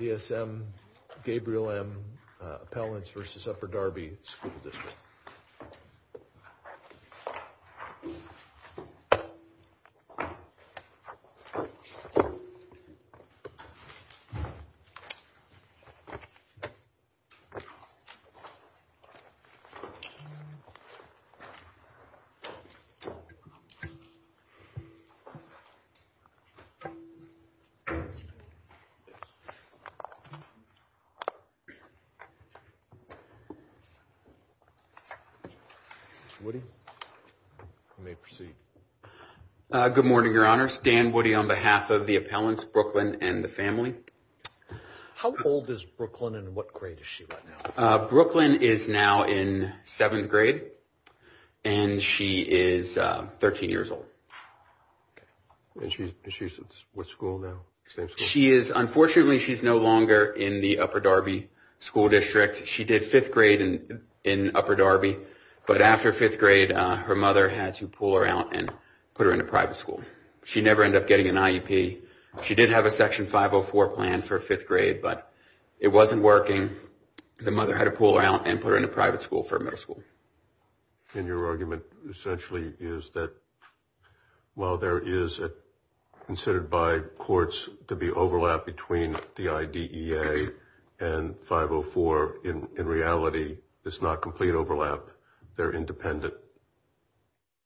BSM, Gabriel M, Appellants v. Upper Darby School District Dan Woody on behalf of the Appellants, Brooklyn and the family. How old is Brooklyn and what grade is she right now? Brooklyn is now in seventh grade and she is 13 years old. What school is she in now? Unfortunately, she is no longer in the Upper Darby School District. She did fifth grade in Upper Darby, but after fifth grade, her mother had to pull her out and put her in a private school. She never ended up getting an IEP. She did have a Section 504 plan for fifth grade, but it wasn't working. The mother had to pull her out and put her in a private school for middle school. And your argument essentially is that, while there is considered by courts to be overlap between the IDEA and 504, in reality, it's not complete overlap. They're independent.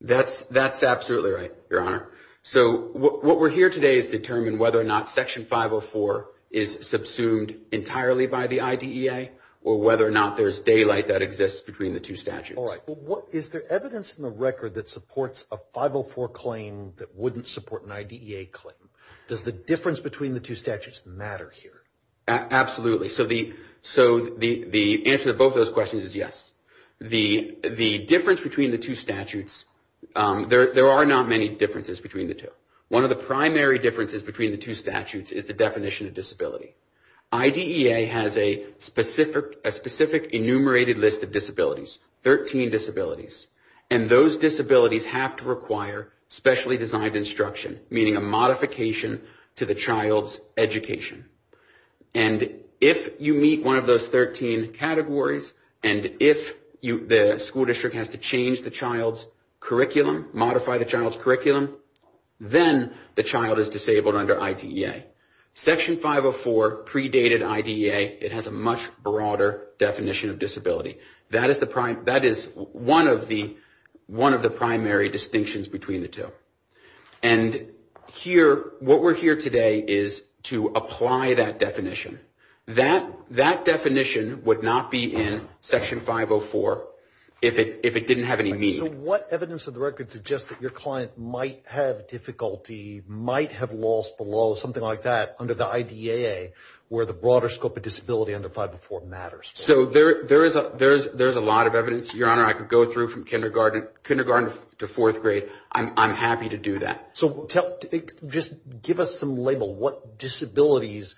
That's absolutely right, Your Honor. So what we're here today is to determine whether or not Section 504 is subsumed entirely by the IDEA or whether or not there's daylight that exists between the two statutes. All right. Is there evidence in the record that supports a 504 claim that wouldn't support an IDEA claim? Does the difference between the two statutes matter here? Absolutely. So the answer to both of those questions is yes. The difference between the two statutes, there are not many differences between the two. One of the primary differences between the two statutes is the definition of disability. IDEA has a specific enumerated list of disabilities, 13 disabilities, and those disabilities have to require specially designed instruction, meaning a modification to the child's education. And if you meet one of those 13 categories, and if the school district has to change the child's curriculum, modify the child's curriculum, then the child is disabled under IDEA. Section 504 predated IDEA. It has a much broader definition of disability. That is one of the primary distinctions between the two. And what we're here today is to apply that definition. That definition would not be in Section 504 if it didn't have any need. So what evidence of the record suggests that your client might have difficulty, might have loss below something like that under the IDEA where the broader scope of disability under 504 matters? So there is a lot of evidence, Your Honor. I could go through from kindergarten to fourth grade. I'm happy to do that. So just give us some label. What disabilities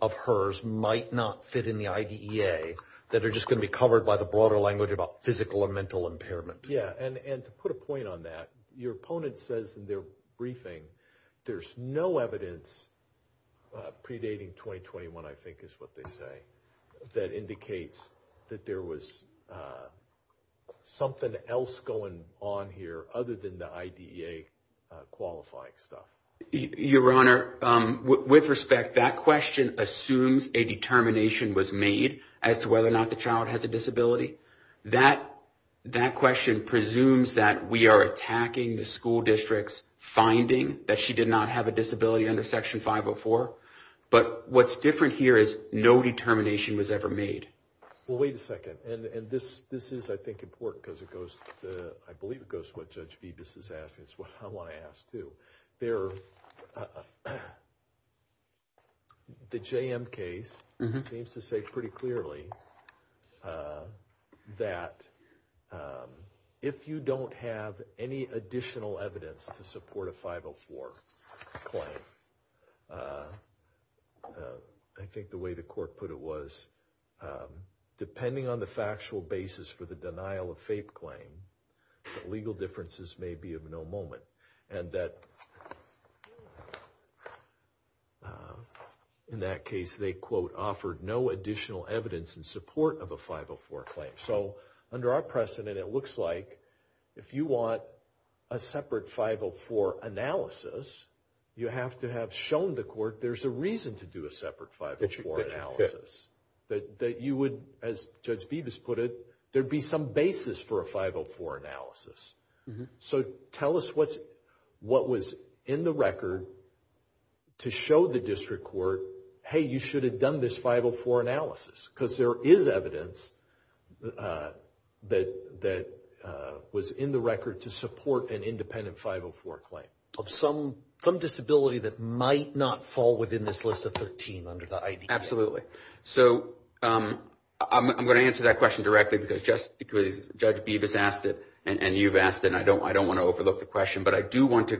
of hers might not fit in the IDEA that are just going to be covered by the broader language about physical and mental impairment? Yeah, and to put a point on that, your opponent says in their briefing, there's no evidence predating 2021, I think is what they say, that indicates that there was something else going on here other than the IDEA qualifying stuff. Your Honor, with respect, that question assumes a determination was made as to whether or not the child has a disability. That question presumes that we are attacking the school district's finding that she did not have a disability under Section 504. But what's different here is no determination was ever made. Well, wait a second. And this is, I think, important because it goes to, I believe, it goes to what Judge Vivas is asking. It's what I want to ask, too. The JM case seems to say pretty clearly that if you don't have any additional evidence to support a 504 claim, I think the way the court put it was, depending on the factual basis for the denial of fape claim, legal differences may be of no moment. And that in that case, they, quote, offered no additional evidence in support of a 504 claim. So under our precedent, it looks like if you want a separate 504 analysis, you have to have shown the court there's a reason to do a separate 504 analysis, that you would, as Judge Vivas put it, there'd be some basis for a 504 analysis. So tell us what was in the record to show the district court, hey, you should have done this 504 analysis. Because there is evidence that was in the record to support an independent 504 claim. Of some disability that might not fall within this list of 13 under the IDEA. Absolutely. So I'm going to answer that question directly because Judge Vivas asked it and you've asked it and I don't want to overlook the question. But I do want to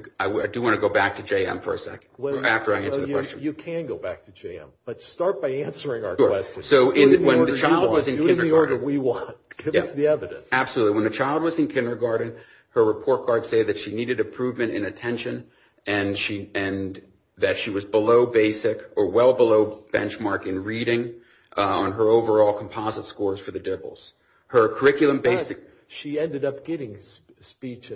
go back to JM for a second after I answer the question. You can go back to JM. But start by answering our question. So when the child was in kindergarten. Do in the order we want. Give us the evidence. Absolutely. When the child was in kindergarten, her report cards say that she needed improvement in attention and that she was below basic or well below benchmark in reading on her overall composite scores for the dibbles. But she ended up getting speech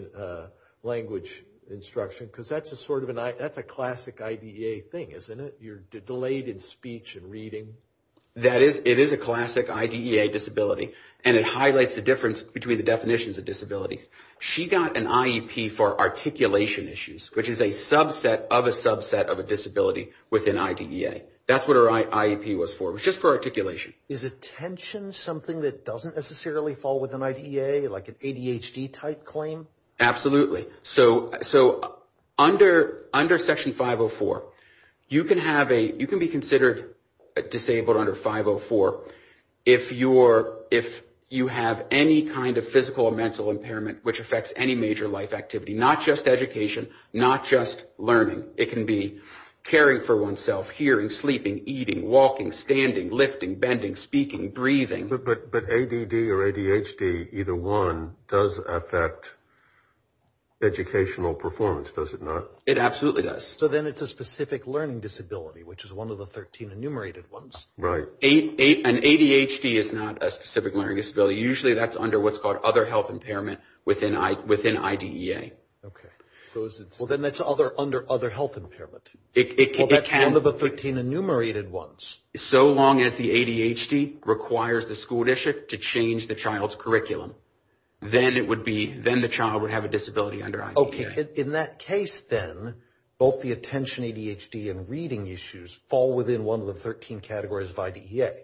language instruction because that's a classic IDEA thing, isn't it? You're delayed in speech and reading. That is. It is a classic IDEA disability and it highlights the difference between the definitions of disability. She got an IEP for articulation issues, which is a subset of a subset of a disability within IDEA. That's what her IEP was for. It was just for articulation. Is attention something that doesn't necessarily fall within IDEA, like an ADHD type claim? Absolutely. So under Section 504, you can be considered disabled under 504 if you have any kind of physical or mental impairment which affects any major life activity, not just education, not just learning. Standing, lifting, bending, speaking, breathing. But ADD or ADHD, either one does affect educational performance, does it not? It absolutely does. So then it's a specific learning disability, which is one of the 13 enumerated ones. Right. An ADHD is not a specific learning disability. Usually that's under what's called other health impairment within IDEA. Okay. Well, then that's under other health impairment. Well, that's one of the 13 enumerated ones. So long as the ADHD requires the school district to change the child's curriculum, then the child would have a disability under IDEA. Okay. In that case, then, both the attention ADHD and reading issues fall within one of the 13 categories of IDEA.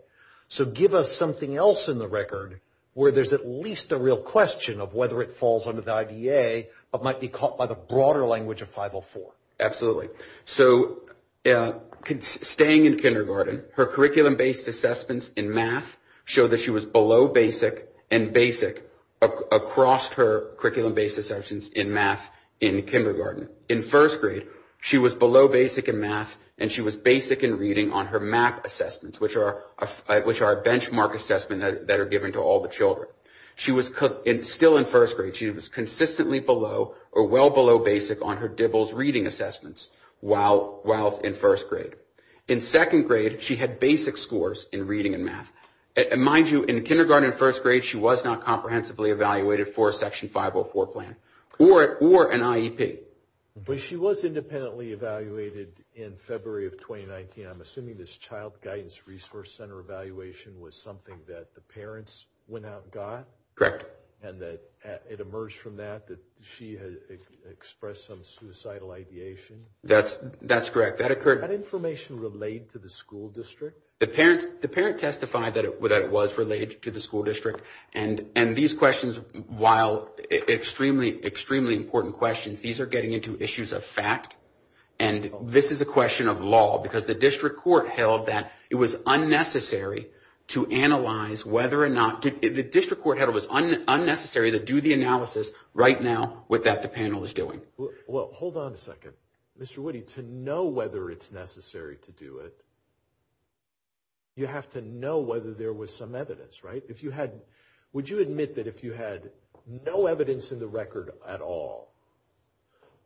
So give us something else in the record where there's at least a real question of whether it falls under the IDEA but might be caught by the broader language of 504. Absolutely. So staying in kindergarten, her curriculum-based assessments in math show that she was below basic and basic across her curriculum-based assessments in math in kindergarten. In first grade, she was below basic in math, and she was basic in reading on her MAP assessments, which are a benchmark assessment that are given to all the children. Still in first grade, she was consistently below or well below basic on her DIBLS reading assessments while in first grade. In second grade, she had basic scores in reading and math. And mind you, in kindergarten and first grade, she was not comprehensively evaluated for a Section 504 plan or an IEP. But she was independently evaluated in February of 2019. I'm assuming this Child Guidance Resource Center evaluation was something that the parents went out and got? Correct. And that it emerged from that that she had expressed some suicidal ideation? That's correct. That occurred. Was that information relayed to the school district? The parents testified that it was relayed to the school district. And these questions, while extremely, extremely important questions, these are getting into issues of fact, and this is a question of law because the district court held that it was unnecessary to do the analysis right now with that the panel is doing. Well, hold on a second. Mr. Woody, to know whether it's necessary to do it, you have to know whether there was some evidence, right? Would you admit that if you had no evidence in the record at all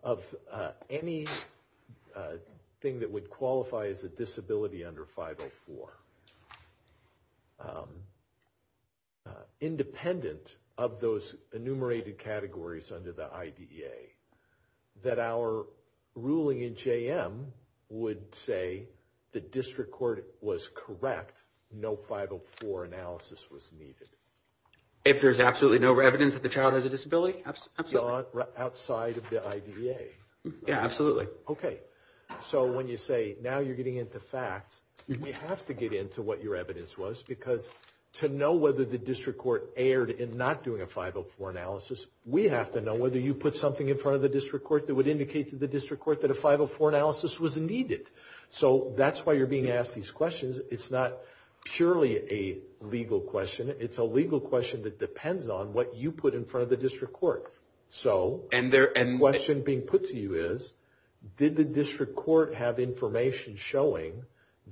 of anything that would qualify as a disability under 504, independent of those enumerated categories under the IDEA, that our ruling in JM would say the district court was correct, no 504 analysis was needed? If there's absolutely no evidence that the child has a disability? Absolutely. Outside of the IDEA? Yeah, absolutely. Okay. So when you say now you're getting into facts, we have to get into what your evidence was because to know whether the district court erred in not doing a 504 analysis, we have to know whether you put something in front of the district court that would indicate to the district court that a 504 analysis was needed. So that's why you're being asked these questions. It's not purely a legal question. It's a legal question that depends on what you put in front of the district court. So the question being put to you is, did the district court have information showing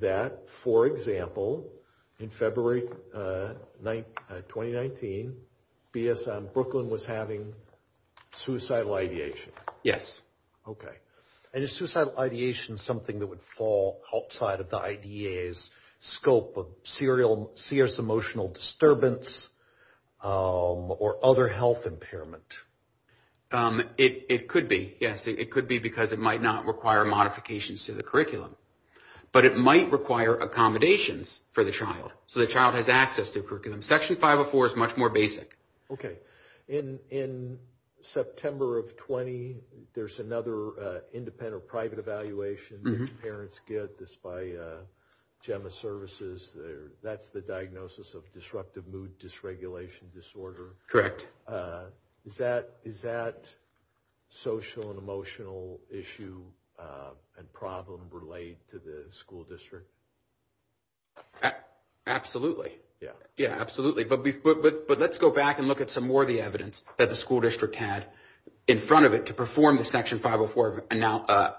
that, for example, in February 2019, Brooklyn was having suicidal ideation? Yes. Okay. And is suicidal ideation something that would fall outside of the IDEA's definition of a 504 analysis? And is that something that would be a serious emotional disturbance or other health impairment? It could be, yes. It could be because it might not require modifications to the curriculum. But it might require accommodations for the child so the child has access to curriculum. Section 504 is much more basic. Okay. In September of 20, there's another independent or private evaluation that parents get. I believe it's by GEMMA Services. That's the diagnosis of disruptive mood dysregulation disorder. Correct. Is that social and emotional issue and problem related to the school district? Absolutely. Yeah. Yeah, absolutely. But let's go back and look at some more of the evidence that the school district had in front of it to perform the Section 504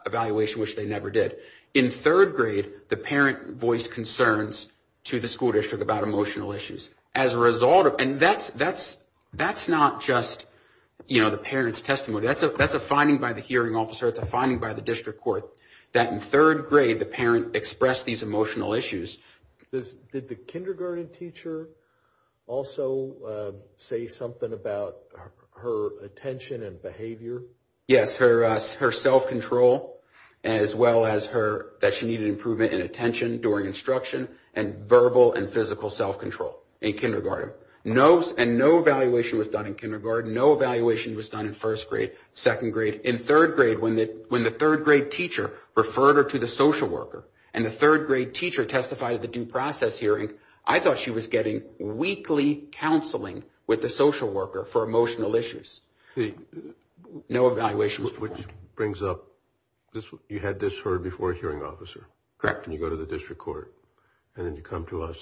evaluation, which they never did. In third grade, the parent voiced concerns to the school district about emotional issues. As a result, and that's not just the parent's testimony. That's a finding by the hearing officer. It's a finding by the district court that in third grade, the parent expressed these emotional issues. Did the kindergarten teacher also say something about her attention and behavior? Yes. She expressed her self-control, as well as that she needed improvement in attention during instruction, and verbal and physical self-control in kindergarten. And no evaluation was done in kindergarten. No evaluation was done in first grade, second grade. In third grade, when the third grade teacher referred her to the social worker, and the third grade teacher testified at the due process hearing, I thought she was getting weekly counseling with the social worker for emotional issues. No evaluation was performed. Which brings up, you had this heard before a hearing officer. Correct. And you go to the district court, and then you come to us.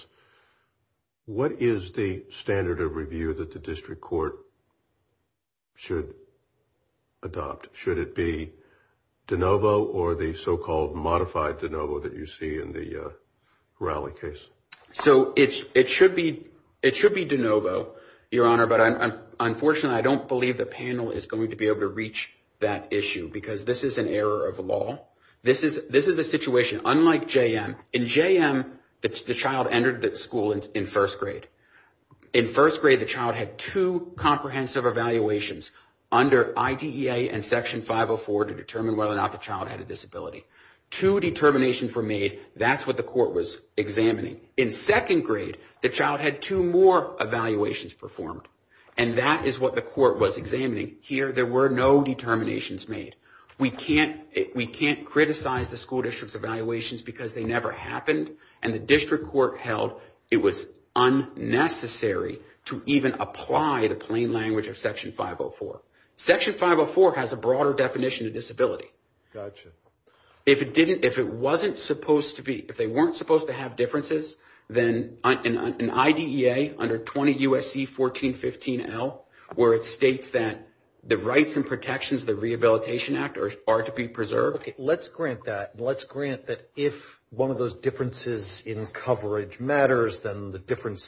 What is the standard of review that the district court should adopt? Should it be de novo or the so-called modified de novo that you see in the Rowley case? So it should be de novo, Your Honor. But unfortunately, I don't believe the panel is going to be able to reach that issue, because this is an error of law. This is a situation, unlike JM. In JM, the child entered the school in first grade. In first grade, the child had two comprehensive evaluations under IDEA and Section 504 to determine whether or not the child had a disability. Two determinations were made. That's what the court was examining. In second grade, the child had two more evaluations performed, and that is what the court was examining. Here, there were no determinations made. We can't criticize the school district's evaluations because they never happened, and the district court held it was unnecessary to even apply the plain language of Section 504. Section 504 has a broader definition of disability. Gotcha. If it didn't, if it wasn't supposed to be, if they weren't supposed to have differences, then an IDEA under 20 U.S.C. 1415L, where it states that the rights and protections of the Rehabilitation Act are to be preserved. Okay, let's grant that, and let's grant that if one of those differences in coverage matters, then the different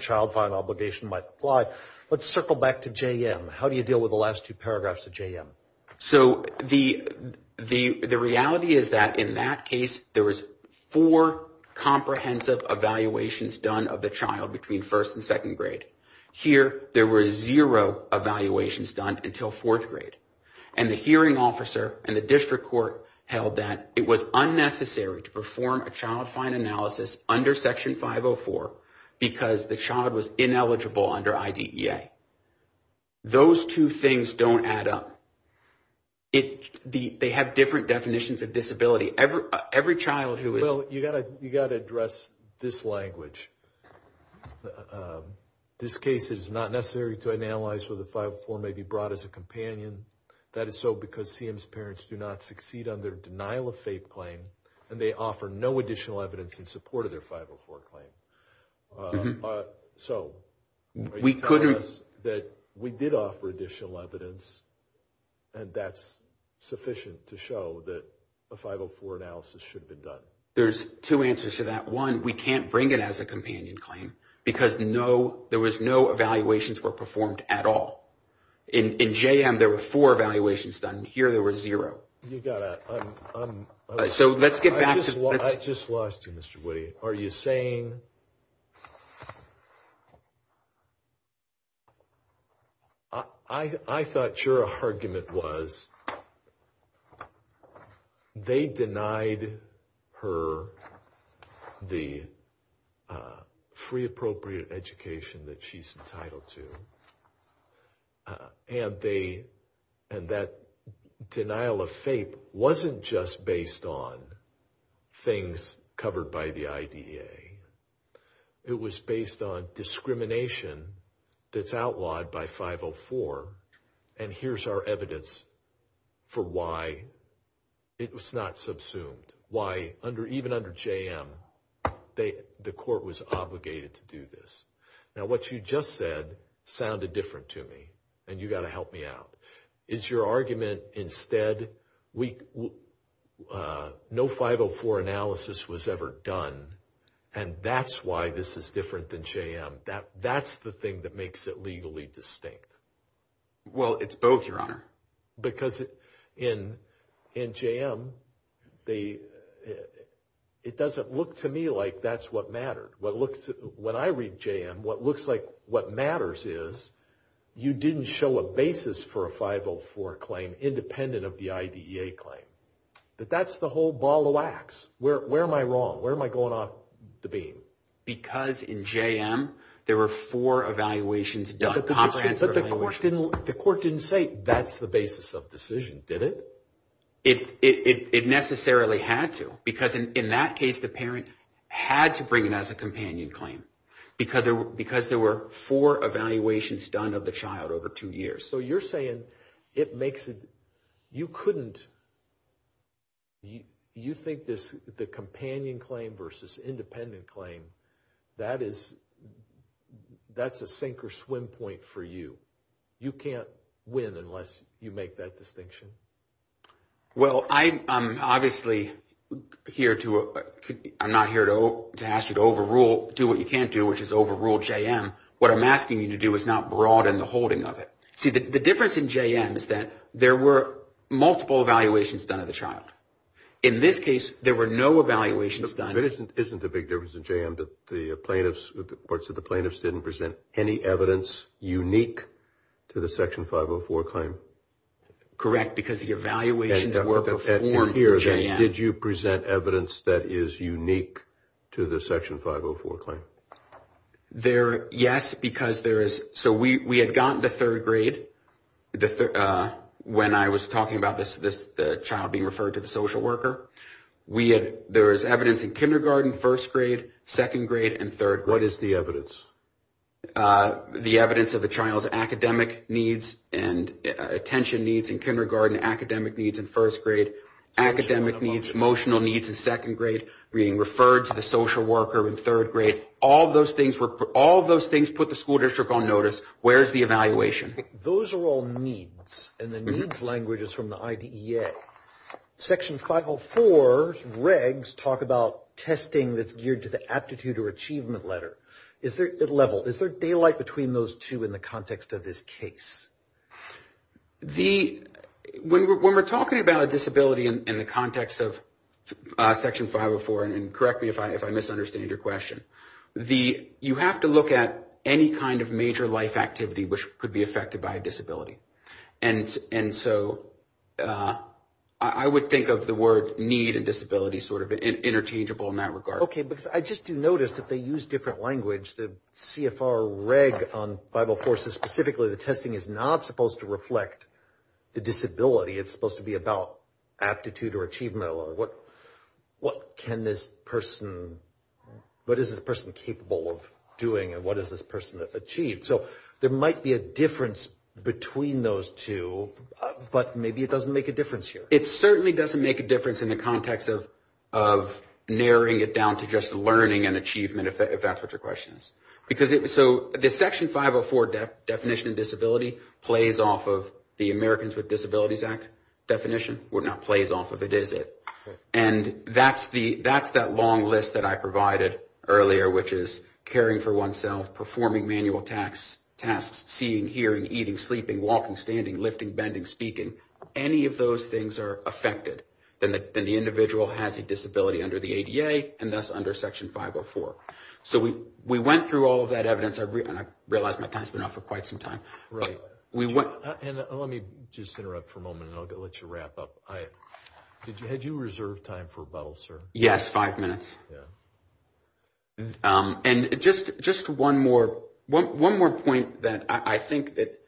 child filing obligation might apply. Let's circle back to JM. How do you deal with the last two paragraphs of JM? So the reality is that in that case, there was four comprehensive evaluations done of the child between first and second grade. Here, there were zero evaluations done until fourth grade, and the hearing officer and the district court held that it was unnecessary to perform a child fine analysis under Section 504 because the child was ineligible under IDEA. Those two things don't add up. They have different definitions of disability. Every child who is- Well, you've got to address this language. This case is not necessary to analyze whether 504 may be brought as a companion. That is so because CM's parents do not succeed under denial of fate claim, and they offer no additional evidence in support of their 504 claim. So, are you telling us that we did offer additional evidence, and that's sufficient to show that a 504 analysis should have been done? There's two answers to that. One, we can't bring it as a companion claim because there was no evaluations were performed at all. In JM, there were four evaluations done. Here, there were zero. You've got to- So, let's get back to- I just lost you, Mr. Woody. Okay. Are you saying- I thought your argument was they denied her the free appropriate education that she's entitled to, and that denial of fate wasn't just based on things covered by the IDEA. It was based on discrimination that's outlawed by 504, and here's our evidence for why it was not subsumed, why even under JM, the court was obligated to do this. Now, what you just said sounded different to me, and you've got to help me out. Is your argument instead, no 504 analysis was ever done, and that's why this is different than JM? That's the thing that makes it legally distinct? Well, it's both, Your Honor. Because in JM, it doesn't look to me like that's what mattered. When I read JM, what looks like what matters is you didn't show a basis for a 504 claim independent of the IDEA claim. That that's the whole ball of wax. Where am I wrong? Where am I going off the beam? Because in JM, there were four evaluations done, comprehensive evaluations. But the court didn't say that's the basis of decision, did it? It necessarily had to, because in that case, the parent had to bring it as a companion claim because there were four evaluations done of the child over two years. So you're saying it makes it, you couldn't, you think this, the companion claim versus independent claim, that is, that's a sink or swim point for you. You can't win unless you make that distinction. Well, I'm obviously here to, I'm not here to ask you to overrule, do what you can't do, which is overrule JM. What I'm asking you to do is not broaden the holding of it. See, the difference in JM is that there were multiple evaluations done of the child. In this case, there were no evaluations done. Isn't the big difference in JM that the plaintiffs, the courts of the plaintiffs didn't present any evidence unique to the Section 504 claim? Correct, because the evaluations were before JM. Did you present evidence that is unique to the Section 504 claim? There, yes, because there is, so we had gotten the third grade when I was talking about this, the child being referred to the social worker. We had, there was evidence in kindergarten, first grade, second grade, and third grade. What is the evidence? The evidence of the child's academic needs and attention needs in kindergarten, academic needs in first grade, academic needs, emotional needs in second grade, being referred to the social worker in third grade. All of those things were, all of those things put the school district on notice. Where is the evaluation? Those are all needs, and the needs language is from the IDEA. Section 504 regs talk about testing that's geared to the aptitude or achievement letter. Is there a level, is there daylight between those two in the context of this case? The, when we're talking about a disability in the context of Section 504, and correct me if I misunderstand your question, the, you have to look at any kind of major life activity which could be affected by a disability. And, and so I would think of the word need and disability sort of interchangeable in that regard. Okay, because I just do notice that they use different language. The CFR reg on Bible forces, specifically the testing is not supposed to reflect the disability. It's supposed to be about aptitude or achievement or what, what can this person, what is this person capable of doing and what is this person achieved? So there might be a difference between those two, but maybe it doesn't make a difference here. It certainly doesn't make a difference in the context of, of narrowing it down to just learning and achievement, if that's what your question is. Because it, so the Section 504 definition of disability plays off of the Americans with Disabilities Act definition. It not plays off of it, is it? And that's the, that's that long list that I provided earlier, which is caring for oneself, performing manual tasks, tasks, seeing, hearing, eating, sleeping, walking, standing, lifting, bending, speaking. Any of those things are affected. Then the, then the individual has a disability under the ADA and thus under Section 504. So we, we went through all of that evidence. I realized my time's been up for quite some time. Right. And let me just interrupt for a moment and I'll let you wrap up. I, did you, had you reserved time for a bottle, sir? Yes. Five minutes. Yeah. And just, just one more, one more point that I think that,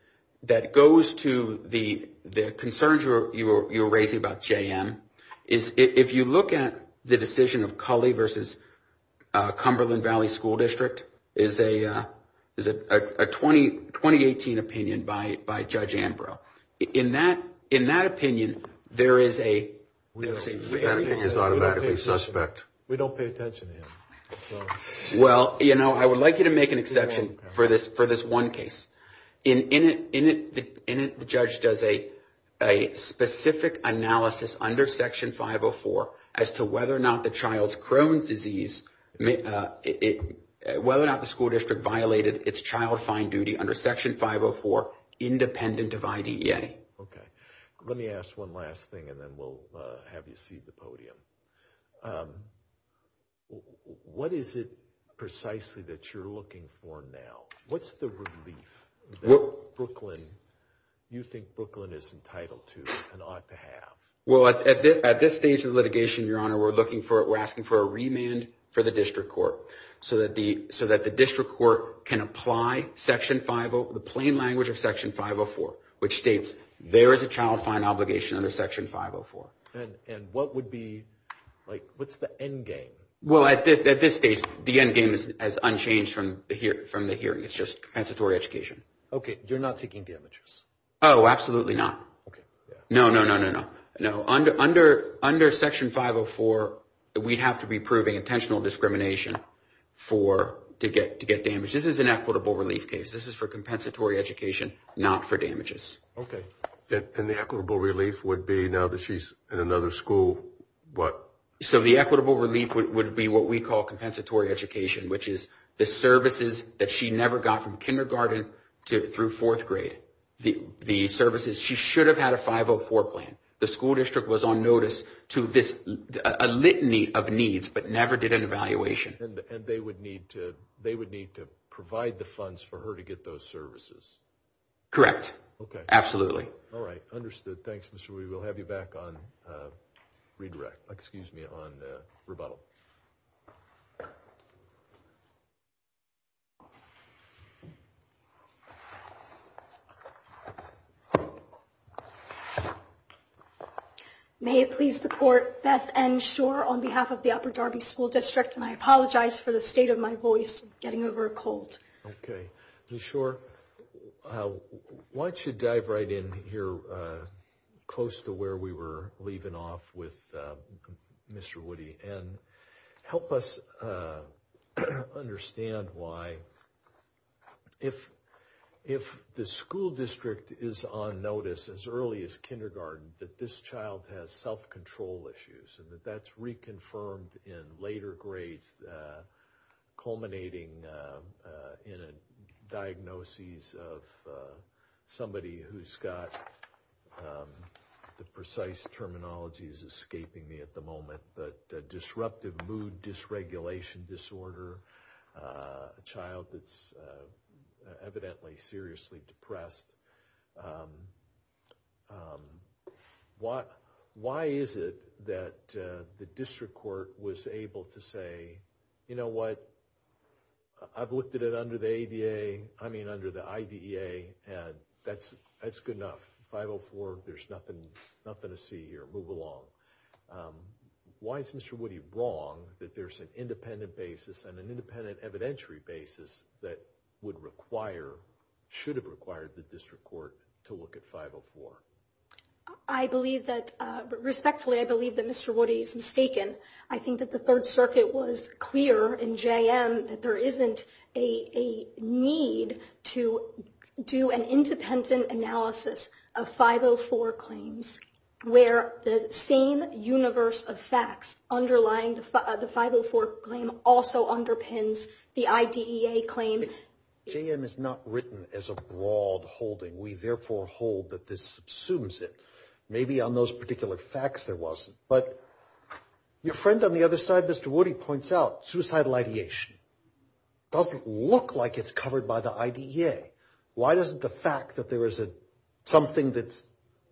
that goes to the, the concerns you were, you were, you were raising about JM is if you look at the decision of Cully versus Cumberland Valley School District is a, is a, a 20, 2018 opinion by, by Judge Ambrose. In that, in that opinion, there is a, is automatically suspect. We don't pay attention to him. Well, you know, I would like you to make an exception for this, for this one case. In, in it, in it, in it, the judge does a, a specific analysis under Section 504 as to whether or not the child's Crohn's disease, it, whether or not the school district violated its child fine duty under Section 504, independent of IDEA. Okay. Let me ask one last thing and then we'll have you see the podium. What is it precisely that you're looking for now? What's the relief that Brooklyn, you think Brooklyn is entitled to and ought to have? Well, at this stage of litigation, Your Honor, we're looking for it. We're asking for a remand for the district court so that the, so that the district court can apply Section 50, the plain language of Section 504, which states there is a child fine obligation under Section 504. And, and what would be, like, what's the end game? Well, at this stage, the end game is unchanged from the hearing. It's just compensatory education. Okay. You're not taking damages? Oh, absolutely not. Okay. No, no, no, no, no. Under, under Section 504, we'd have to be proving intentional discrimination for, to get, to get damage. This is an equitable relief case. This is for compensatory education, not for damages. Okay. And, and the equitable relief would be, now that she's in another school, what? So, the equitable relief would, would be what we call compensatory education, which is the services that she never got from kindergarten to, through fourth grade. The, the services, she should have had a 504 plan. The school district was on notice to this, a litany of needs, but never did an evaluation. And, and they would need to, they would need to provide the funds for her to get those services. Correct. Okay. Absolutely. All right. Understood. Thanks, Mr. Weaver. We'll have you back on redirect, excuse me, on the rebuttal. May it please the court, Beth and shore on behalf of the upper Darby school district. And I apologize for the state of my voice, getting over a cold. Okay. Sure. Why don't you dive right in here? Close to where we were leaving off with Mr. Woody and help us understand why if, if the school district is on notice as early as kindergarten, that this child has self-control issues and that that's reconfirmed in later grades, culminating in a diagnosis of somebody who's got the precise terminology is escaping me at the moment, but a disruptive mood dysregulation disorder, a child that's evidently seriously depressed. Um, um, what, why is it that, uh, the district court was able to say, you know what? I've looked at it under the ADA. I mean, under the IDA and that's, that's good enough. Five Oh four. There's nothing, nothing to see here. Move along. Um, why is Mr. Woody wrong that there's an independent basis and an independent evidentiary basis that would require, should have required the district court to look at five Oh four. I believe that, uh, respectfully, I believe that Mr. Woody is mistaken. I think that the third circuit was clear in JM that there isn't a, a need to do an independent analysis of five Oh four claims where the same universe of facts underlying the five Oh four claim also underpins the IDA claim. JM is not written as a broad holding. We therefore hold that this assumes it may be on those particular facts. There wasn't, but your friend on the other side, Mr. Woody points out suicidal ideation doesn't look like it's covered by the IDA. Why doesn't the fact that there is a, something that's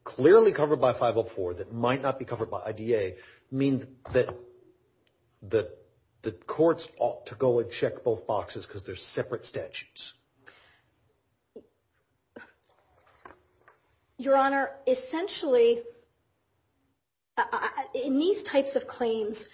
clearly covered by five Oh four that might not be covered by IDA mean that, that the courts ought to go and check both boxes. Cause there's separate statutes. Your honor, essentially in these types of claims,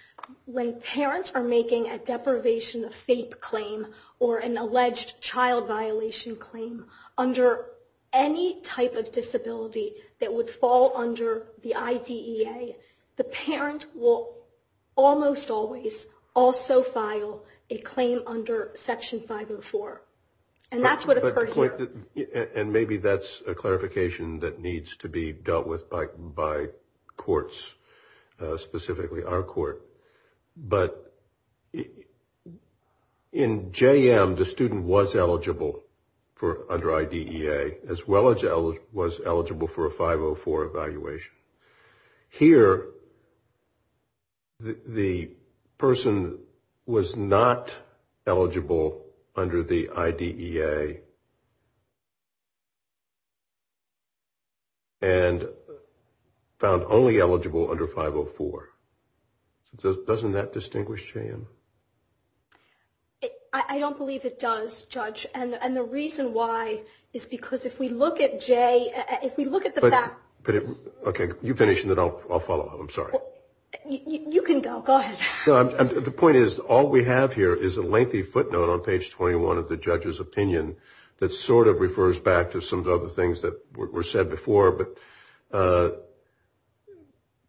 when parents are making a deprivation of faith claim or an alleged child violation claim under any type of disability that would fall under the IDA, the parent will almost always also file a claim under section five Oh four. And that's what occurred here. And maybe that's a clarification that needs to be dealt with by, by courts, specifically our court. But in JM, the student was eligible for under IDEA as well as L was eligible for a five Oh four evaluation. Here, the person was not eligible under the IDEA. And found only eligible under five Oh four. Doesn't that distinguish JM? I don't believe it does judge. And the reason why is because if we look at J, if we look at the back. Okay. You finish and then I'll, I'll follow up. I'm sorry. You can go. Go ahead. The point is, all we have here is a lengthy footnote on page 21 of the judge's opinion that sort of refers back to some of the other things that were said before. But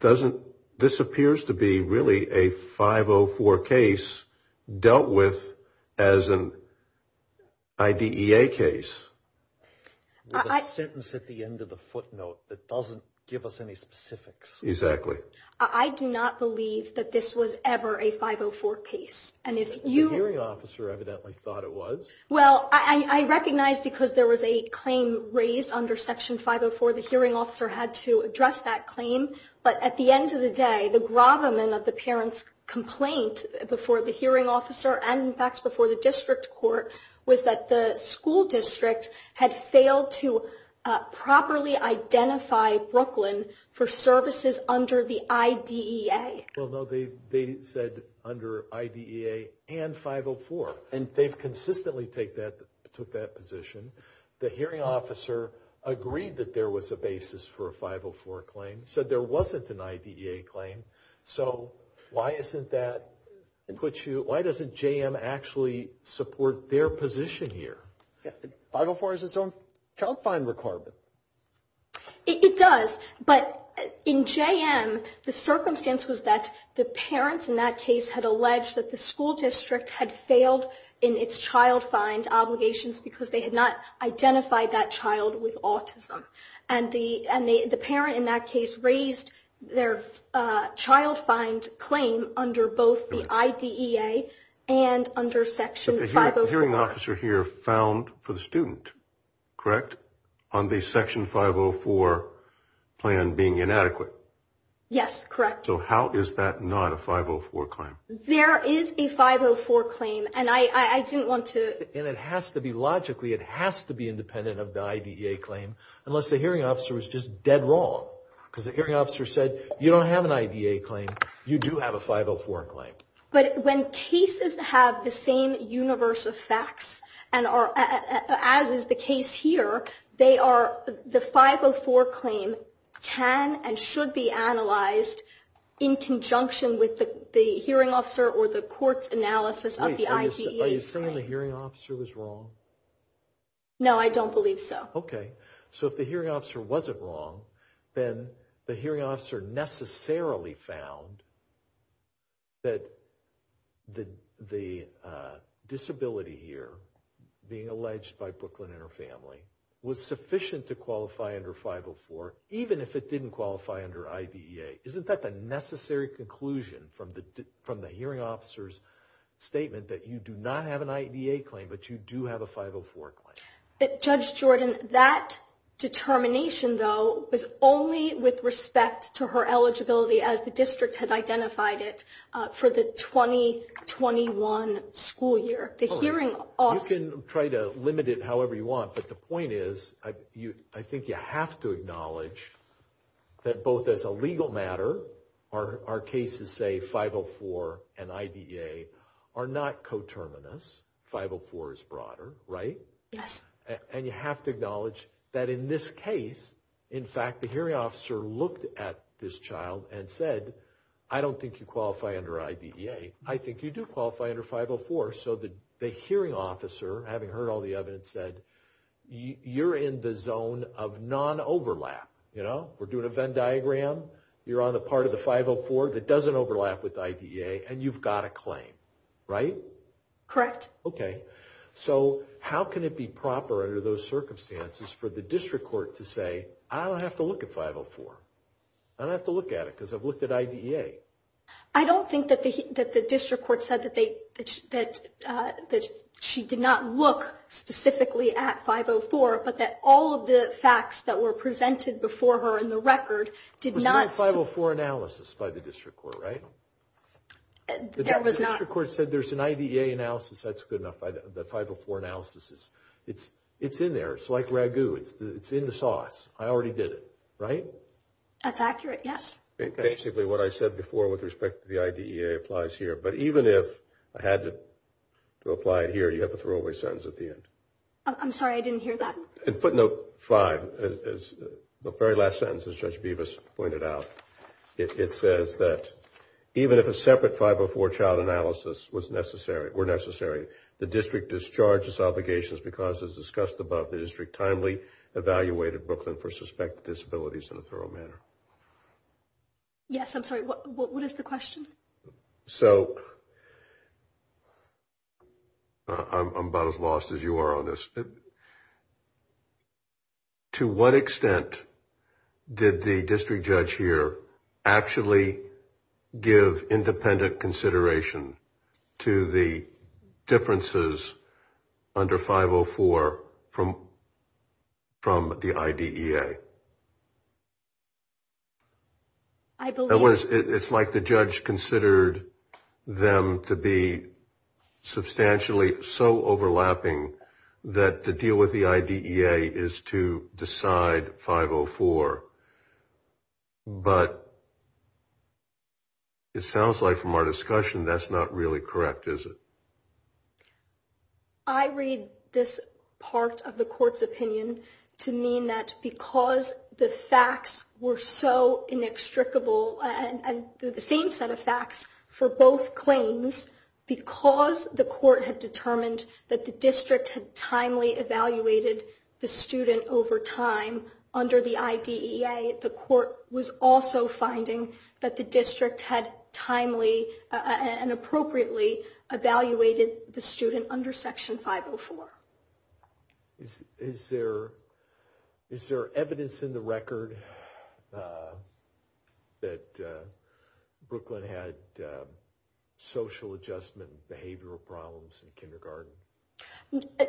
doesn't, this appears to be really a five Oh four case dealt with as an IDEA case. With a sentence at the end of the footnote that doesn't give us any specifics. Exactly. I do not believe that this was ever a five Oh four case. And if you. The hearing officer evidently thought it was. Well, I recognize because there was a claim raised under section five Oh four. The hearing officer had to address that claim. But at the end of the day, the gravamen of the parent's complaint before the hearing officer and in fact, before the district court was that the school district had failed to properly identify Brooklyn for services under the IDEA. Well, no, they said under IDEA and five Oh four. And they've consistently take that, took that position. The hearing officer agreed that there was a basis for a five Oh four claim. So there wasn't an IDEA claim. So why isn't that? Why doesn't JM actually support their position here? Five Oh four is its own child find requirement. It does. But in JM, the circumstance was that the parents in that case had alleged that the school district had failed in its child find obligations because they had not identified that child with autism. And the, and the, the parent in that case raised their child find claim under both the IDEA and under section five. Hearing officer here found for the student, correct? On the section five Oh four plan being inadequate. Yes, correct. So how is that not a five Oh four claim? There is a five Oh four claim. And I, I didn't want to, and it has to be logically, it has to be independent of the IDEA claim. Unless the hearing officer was just dead wrong. Cause the hearing officer said, you don't have an IDEA claim. You do have a five Oh four claim. But when cases have the same universe of facts and are as is the case here, they are the five Oh four claim can and should be analyzed in conjunction with the hearing officer or the court's analysis of the IDEA. Are you saying the hearing officer was wrong? No, I don't believe so. Okay. So if the hearing officer wasn't wrong, then the hearing officer necessarily found that the, the disability here being alleged by Brooklyn and her family was sufficient to qualify under five Oh four, even if it didn't qualify under IDEA. Isn't that the necessary conclusion from the, from the hearing officer's statement that you do not have an IDEA claim, but you do have a five Oh four claim. Judge Jordan, that determination though was only with respect to her eligibility as the district had identified it for the 2021 school year. The hearing. You can try to limit it however you want, but the point is you, I think you have to acknowledge that both as a legal matter are our cases say five Oh four and IDEA are not coterminous. Five Oh four is broader, right? Yes. And you have to acknowledge that in this case, in fact, the hearing officer looked at this child and said, I don't think you qualify under IDEA. I think you do qualify under five Oh four. So the, the hearing officer having heard all the evidence said you're in the zone of non overlap. You know, we're doing a Venn diagram. You're on the part of the five Oh four that doesn't overlap with IDEA and you've got a claim, right? Correct. Yes. Okay. So how can it be proper under those circumstances for the district court to say, I don't have to look at five Oh four. I don't have to look at it because I've looked at IDEA. I don't think that the, that the district court said that they, that, that she did not look specifically at five Oh four, but that all of the facts that were presented before her in the record did not. Five Oh four analysis by the district court, right? The district court said there's an IDEA analysis. That's good enough. The five Oh four analysis is, it's, it's in there. It's like ragu. It's the, it's in the sauce. I already did it, right? That's accurate. Yes. Basically what I said before with respect to the IDEA applies here, but even if I had to apply it here, you have a throwaway sentence at the end. I'm sorry. I didn't hear that. And footnote five is the very last sentence as Judge Bevis pointed out. It says that even if a separate five Oh four child analysis was necessary, were necessary, the district discharges obligations because as discussed above, the district timely evaluated Brooklyn for suspected disabilities in a thorough manner. Yes. I'm sorry. What, what is the question? So I'm about as lost as you are on this. To what extent did the district judge here actually give independent consideration to the differences under five Oh four from, from the IDEA? I believe it's like the judge considered them to be substantially so that the deal with the IDEA is to decide five Oh four, but it sounds like from our discussion, that's not really correct. Is it? I read this part of the court's opinion to mean that because the facts were so inextricable and the same set of facts for both claims, because the court had determined that the district had timely evaluated the student over time under the IDEA, the court was also finding that the district had timely and appropriately evaluated the student under section five Oh four. Is, is there, is there evidence in the record that Brooklyn had social addiction? Adjustment, behavioral problems in kindergarten?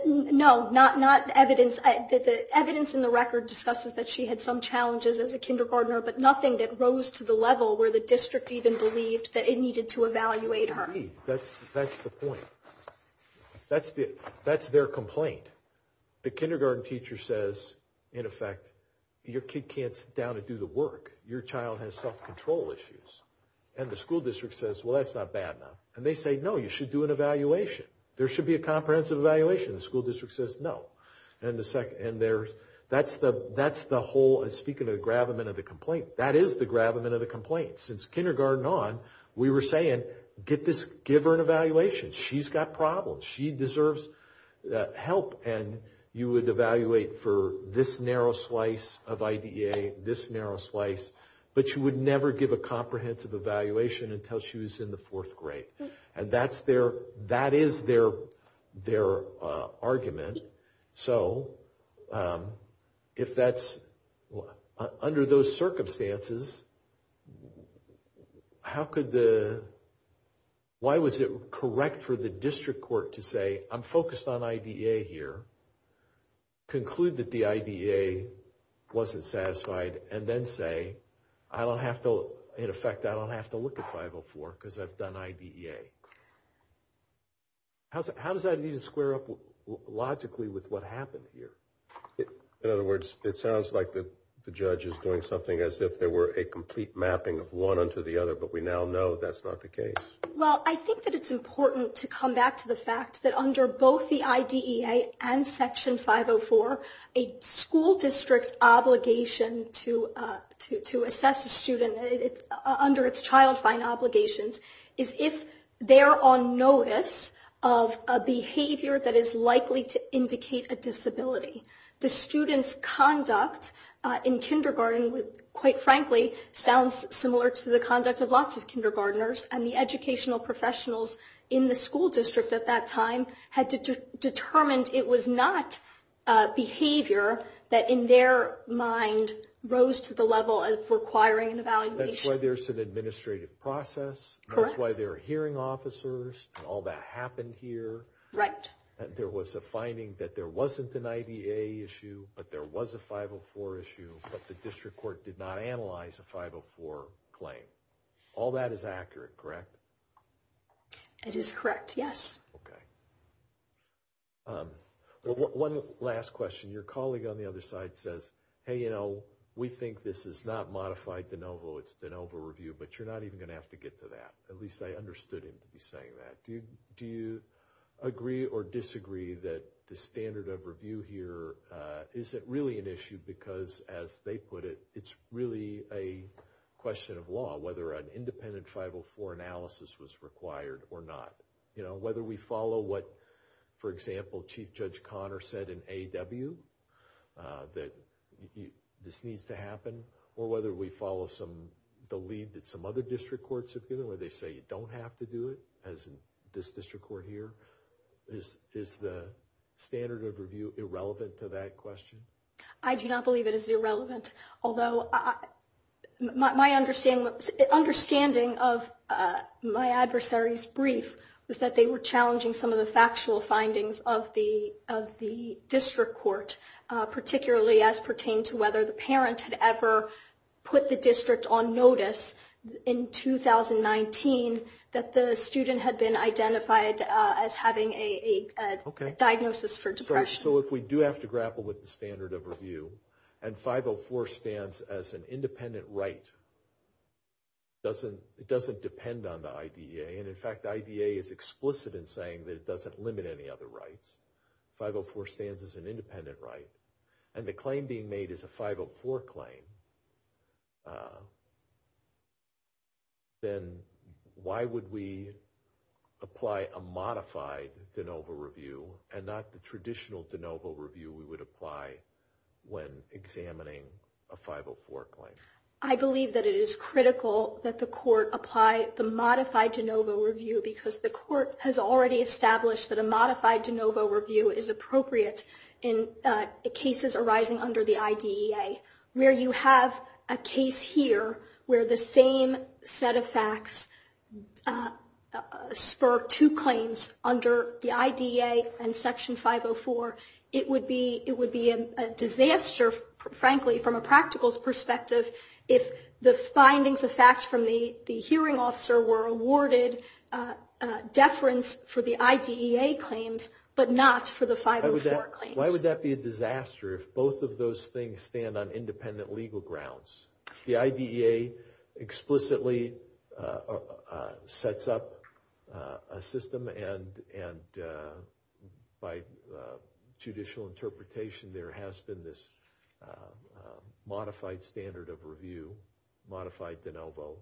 No, not, not evidence that the evidence in the record discusses that she had some challenges as a kindergartner, but nothing that rose to the level where the district even believed that it needed to evaluate her. That's, that's the point. That's the, that's their complaint. The kindergarten teacher says, in effect, your kid can't sit down and do the work. Your child has self control issues and the school district says, well, that's not bad enough. And they say, no, you should do an evaluation. There should be a comprehensive evaluation. The school district says, no. And the second, and there's, that's the, that's the whole, speaking of the gravamen of the complaint, that is the gravamen of the complaint. Since kindergarten on, we were saying, get this, give her an evaluation. She's got problems. She deserves help. And you would evaluate for this narrow slice of IDEA, this narrow slice, but you would never give a comprehensive evaluation until she was in the fourth grade. And that's their, that is their, their argument. So, if that's, under those circumstances, how could the, why was it correct for the district court to say, I'm focused on IDEA here, conclude that the IDEA wasn't satisfied and then say, I don't have to, in effect, I don't have to look at 504 because I've done IDEA. How does that need to square up logically with what happened here? In other words, it sounds like the judge is doing something as if there were a complete mapping of one unto the other, but we now know that's not the case. Well, I think that it's important to come back to the fact that under both the IDEA and section 504, a school district's obligation to, to assess a student under its child find obligations is if they're on notice of a behavior that is likely to indicate a disability. The student's conduct in kindergarten, quite frankly, sounds similar to the conduct of lots of kindergartners and the educational professionals in the school district at that time had determined it was not a behavior that in their mind rose to the level of requiring an evaluation. That's why there's an administrative process. That's why there are hearing officers and all that happened here. Right. There was a finding that there wasn't an IDEA issue, but there was a 504 issue, but the district court did not analyze a 504 claim. All that is accurate, correct? It is correct. Yes. Okay. One last question. Your colleague on the other side says, hey, you know, we think this is not modified de novo. It's de novo review, but you're not even going to have to get to that. At least I understood him to be saying that. Do you agree or disagree that the standard of review here isn't really an issue because as they put it, whether an independent 504 analysis was required or not, you know, whether we follow what, for example, Chief Judge Connor said in AW that this needs to happen, or whether we follow the lead that some other district courts have given, where they say you don't have to do it, as in this district court here. Is the standard of review irrelevant to that question? I do not believe it is irrelevant, although my understanding of my adversary's brief was that they were challenging some of the factual findings of the district court, particularly as pertained to whether the parent had ever put the district on notice in 2019 that the student had been identified as having a diagnosis for depression. So if we do have to grapple with the standard of review, and 504 stands as an independent right, it doesn't depend on the IDEA. And in fact, the IDEA is explicit in saying that it doesn't limit any other rights. 504 stands as an independent right, and the claim being made is a 504 claim, then why would we apply a modified de novo review and not the traditional de novo review we would apply when examining a 504 claim? I believe that it is critical that the court apply the modified de novo review because the court has already established that a modified de novo review is appropriate in cases arising under the IDEA. Where you have a case here where the same set of facts spur two claims under the IDEA and Section 504, it would be a disaster, frankly, from a practical perspective if the findings of facts from the hearing officer were awarded deference for the IDEA claims, but not for the 504 claims. Why would that be a disaster if both of those things stand on independent The IDEA explicitly sets up a system, and by judicial interpretation, there has been this modified standard of review, modified de novo.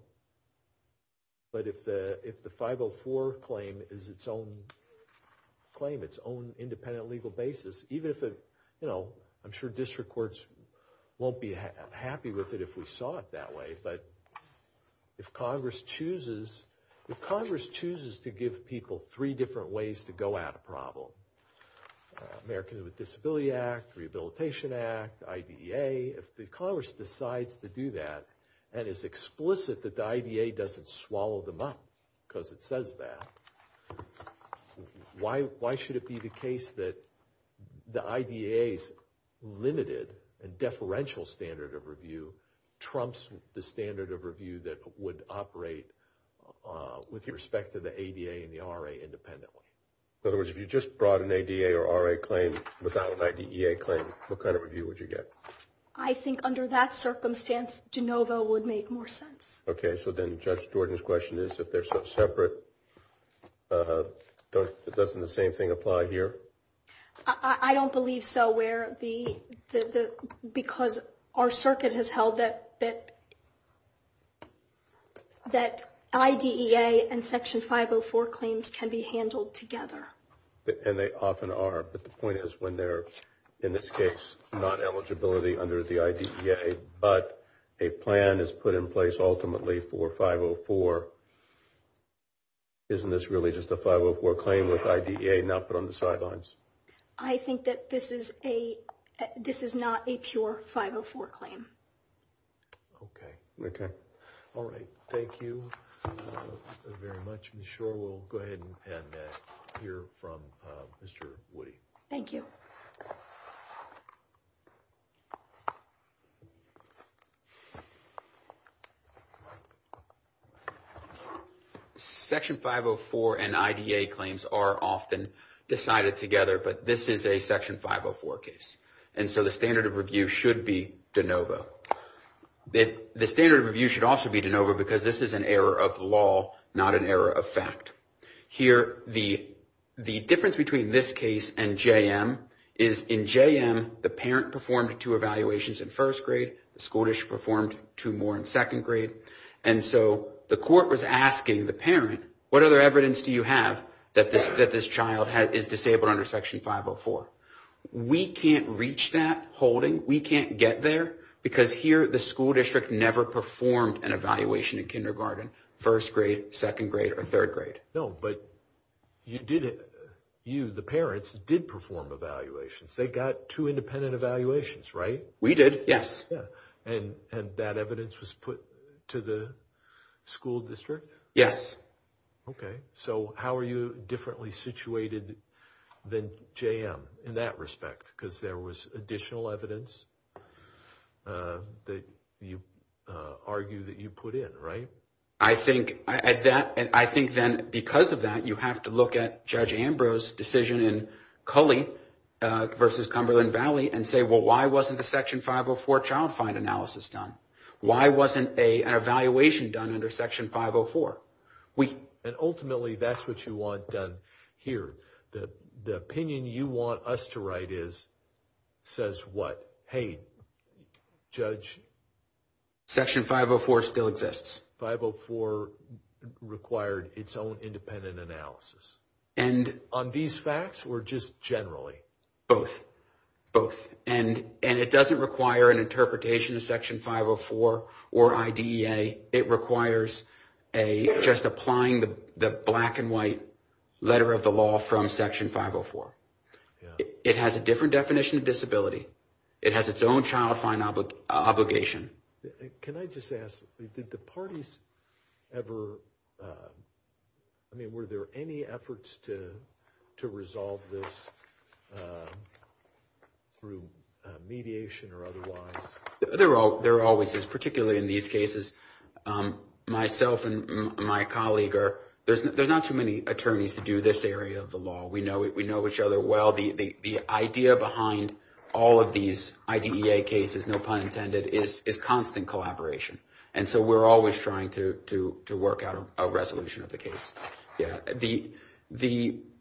But if the 504 claim is its own claim, its own independent legal basis, even if it, you know, I'm sure district courts won't be happy with it if we saw it that way, but if Congress chooses, if Congress chooses to give people three different ways to go at a problem, Americans with Disability Act, Rehabilitation Act, IDEA, if the Congress decides to do that and is explicit that the IDEA doesn't swallow them up because it says that, why should it be the case that the IDEA's limited and deferential standard of review trumps the standard of review that would operate with respect to the ADA and the RA independently? In other words, if you just brought an ADA or RA claim without an IDEA claim, what kind of review would you get? I think under that circumstance, de novo would make more sense. Okay. So then Judge Jordan's question is if they're so separate, doesn't the same thing apply here? I don't believe so. Because our circuit has held that that IDEA and Section 504 claims can be handled together. And they often are. But the point is when they're in this case, not eligibility under the IDEA, but a plan is put in place ultimately for 504. Isn't this really just a 504 claim with IDEA not put on the sidelines? I think that this is a, this is not a pure 504 claim. Okay. Okay. All right. Thank you very much. I'm sure we'll go ahead and hear from Mr. Woody. Thank you. Section 504 and IDEA claims are often decided together, but this is a Section 504 case. And so the standard of review should be de novo. The standard of review should also be de novo because this is an error of law, not an error of fact. Here, the difference between this case and JM is in JM, the parent performed two evaluations in first grade. The Scottish performed two more in second grade. And so the court was asking the parent, what other evidence do you have that this child is disabled under Section 504? We can't reach that holding. We can't get there because here, the school district never performed an evaluation in kindergarten, first grade, second grade, or third grade. No, but you did it. You, the parents, did perform evaluations. They got two independent evaluations, right? We did, yes. Yeah. And that evidence was put to the school district? Yes. Okay. So how are you differently situated than JM in that respect? Because there was additional evidence that you argue that you put in, right? I think then because of that, you have to look at Judge Ambrose's decision in Cully versus Cumberland Valley and say, well, why wasn't the Section 504 child find analysis done? Why wasn't an evaluation done under Section 504? And ultimately, that's what you want done here. The opinion you want us to write is, says what? Hey, Judge? Section 504 still exists. 504 required its own independent analysis. And on these facts or just generally? Both. Both. And it doesn't require an interpretation of Section 504 or IDEA. It requires just applying the black and white letter of the law from Section 504. Yeah. It has a different definition of disability. It has its own child find obligation. Can I just ask, did the parties ever, I mean, were there any efforts to resolve this through mediation or otherwise? There always is, particularly in these cases. Myself and my colleague are, there's not too many attorneys to do this area of the law. We know each other well. The idea behind all of these IDEA cases, no pun intended, is constant collaboration. And so we're always trying to work out a resolution of the case.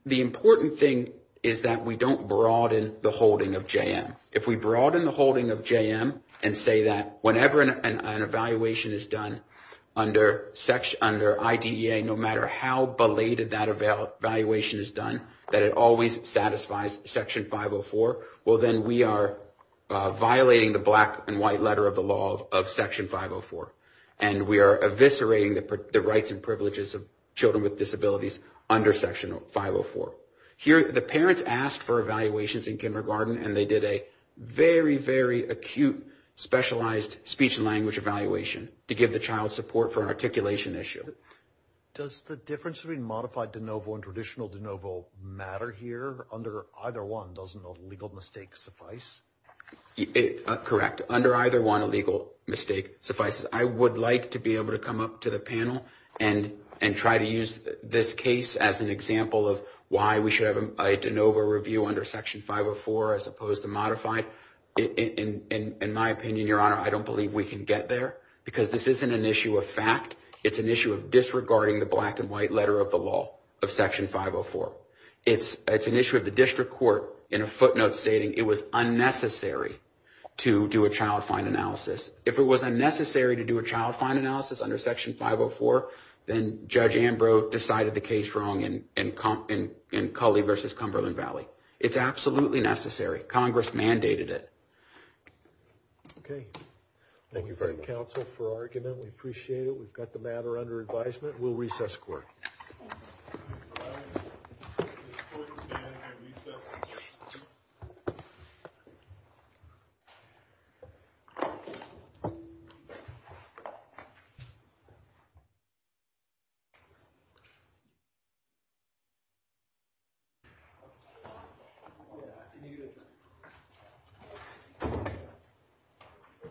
The important thing is that we don't broaden the holding of JM. If we broaden the holding of JM and say that whenever an evaluation is done under IDEA, no matter how belated that evaluation is done, that it always satisfies Section 504, well then we are violating the black and white letter of the law of Section 504. And we are eviscerating the rights and privileges of children with disabilities under Section 504. Here, the parents asked for evaluations in kindergarten, and they did a very, very acute specialized speech and language evaluation to give the child support for an articulation issue. Does the difference between modified de novo and traditional de novo matter here? Under either one, doesn't a legal mistake suffice? Correct. Under either one, a legal mistake suffices. I would like to be able to come up to the panel and try to use this case as an example of why we should have a de novo review under Section 504 as opposed to modified. In my opinion, Your Honor, I don't believe we can get there because this isn't an issue of fact. It's an issue of disregarding the black and white letter of the law of Section 504. It's an issue of the district court in a footnote stating it was unnecessary to do a child fine analysis. If it was unnecessary to do a child fine analysis under Section 504, then Judge Ambrose decided the case wrong in Culley v. Cumberland Valley. It's absolutely necessary. Congress mandated it. Thank you very much. Thank you, counsel, for argument. We appreciate it. We've got the matter under advisement. We'll recess the court. The court is adjourned.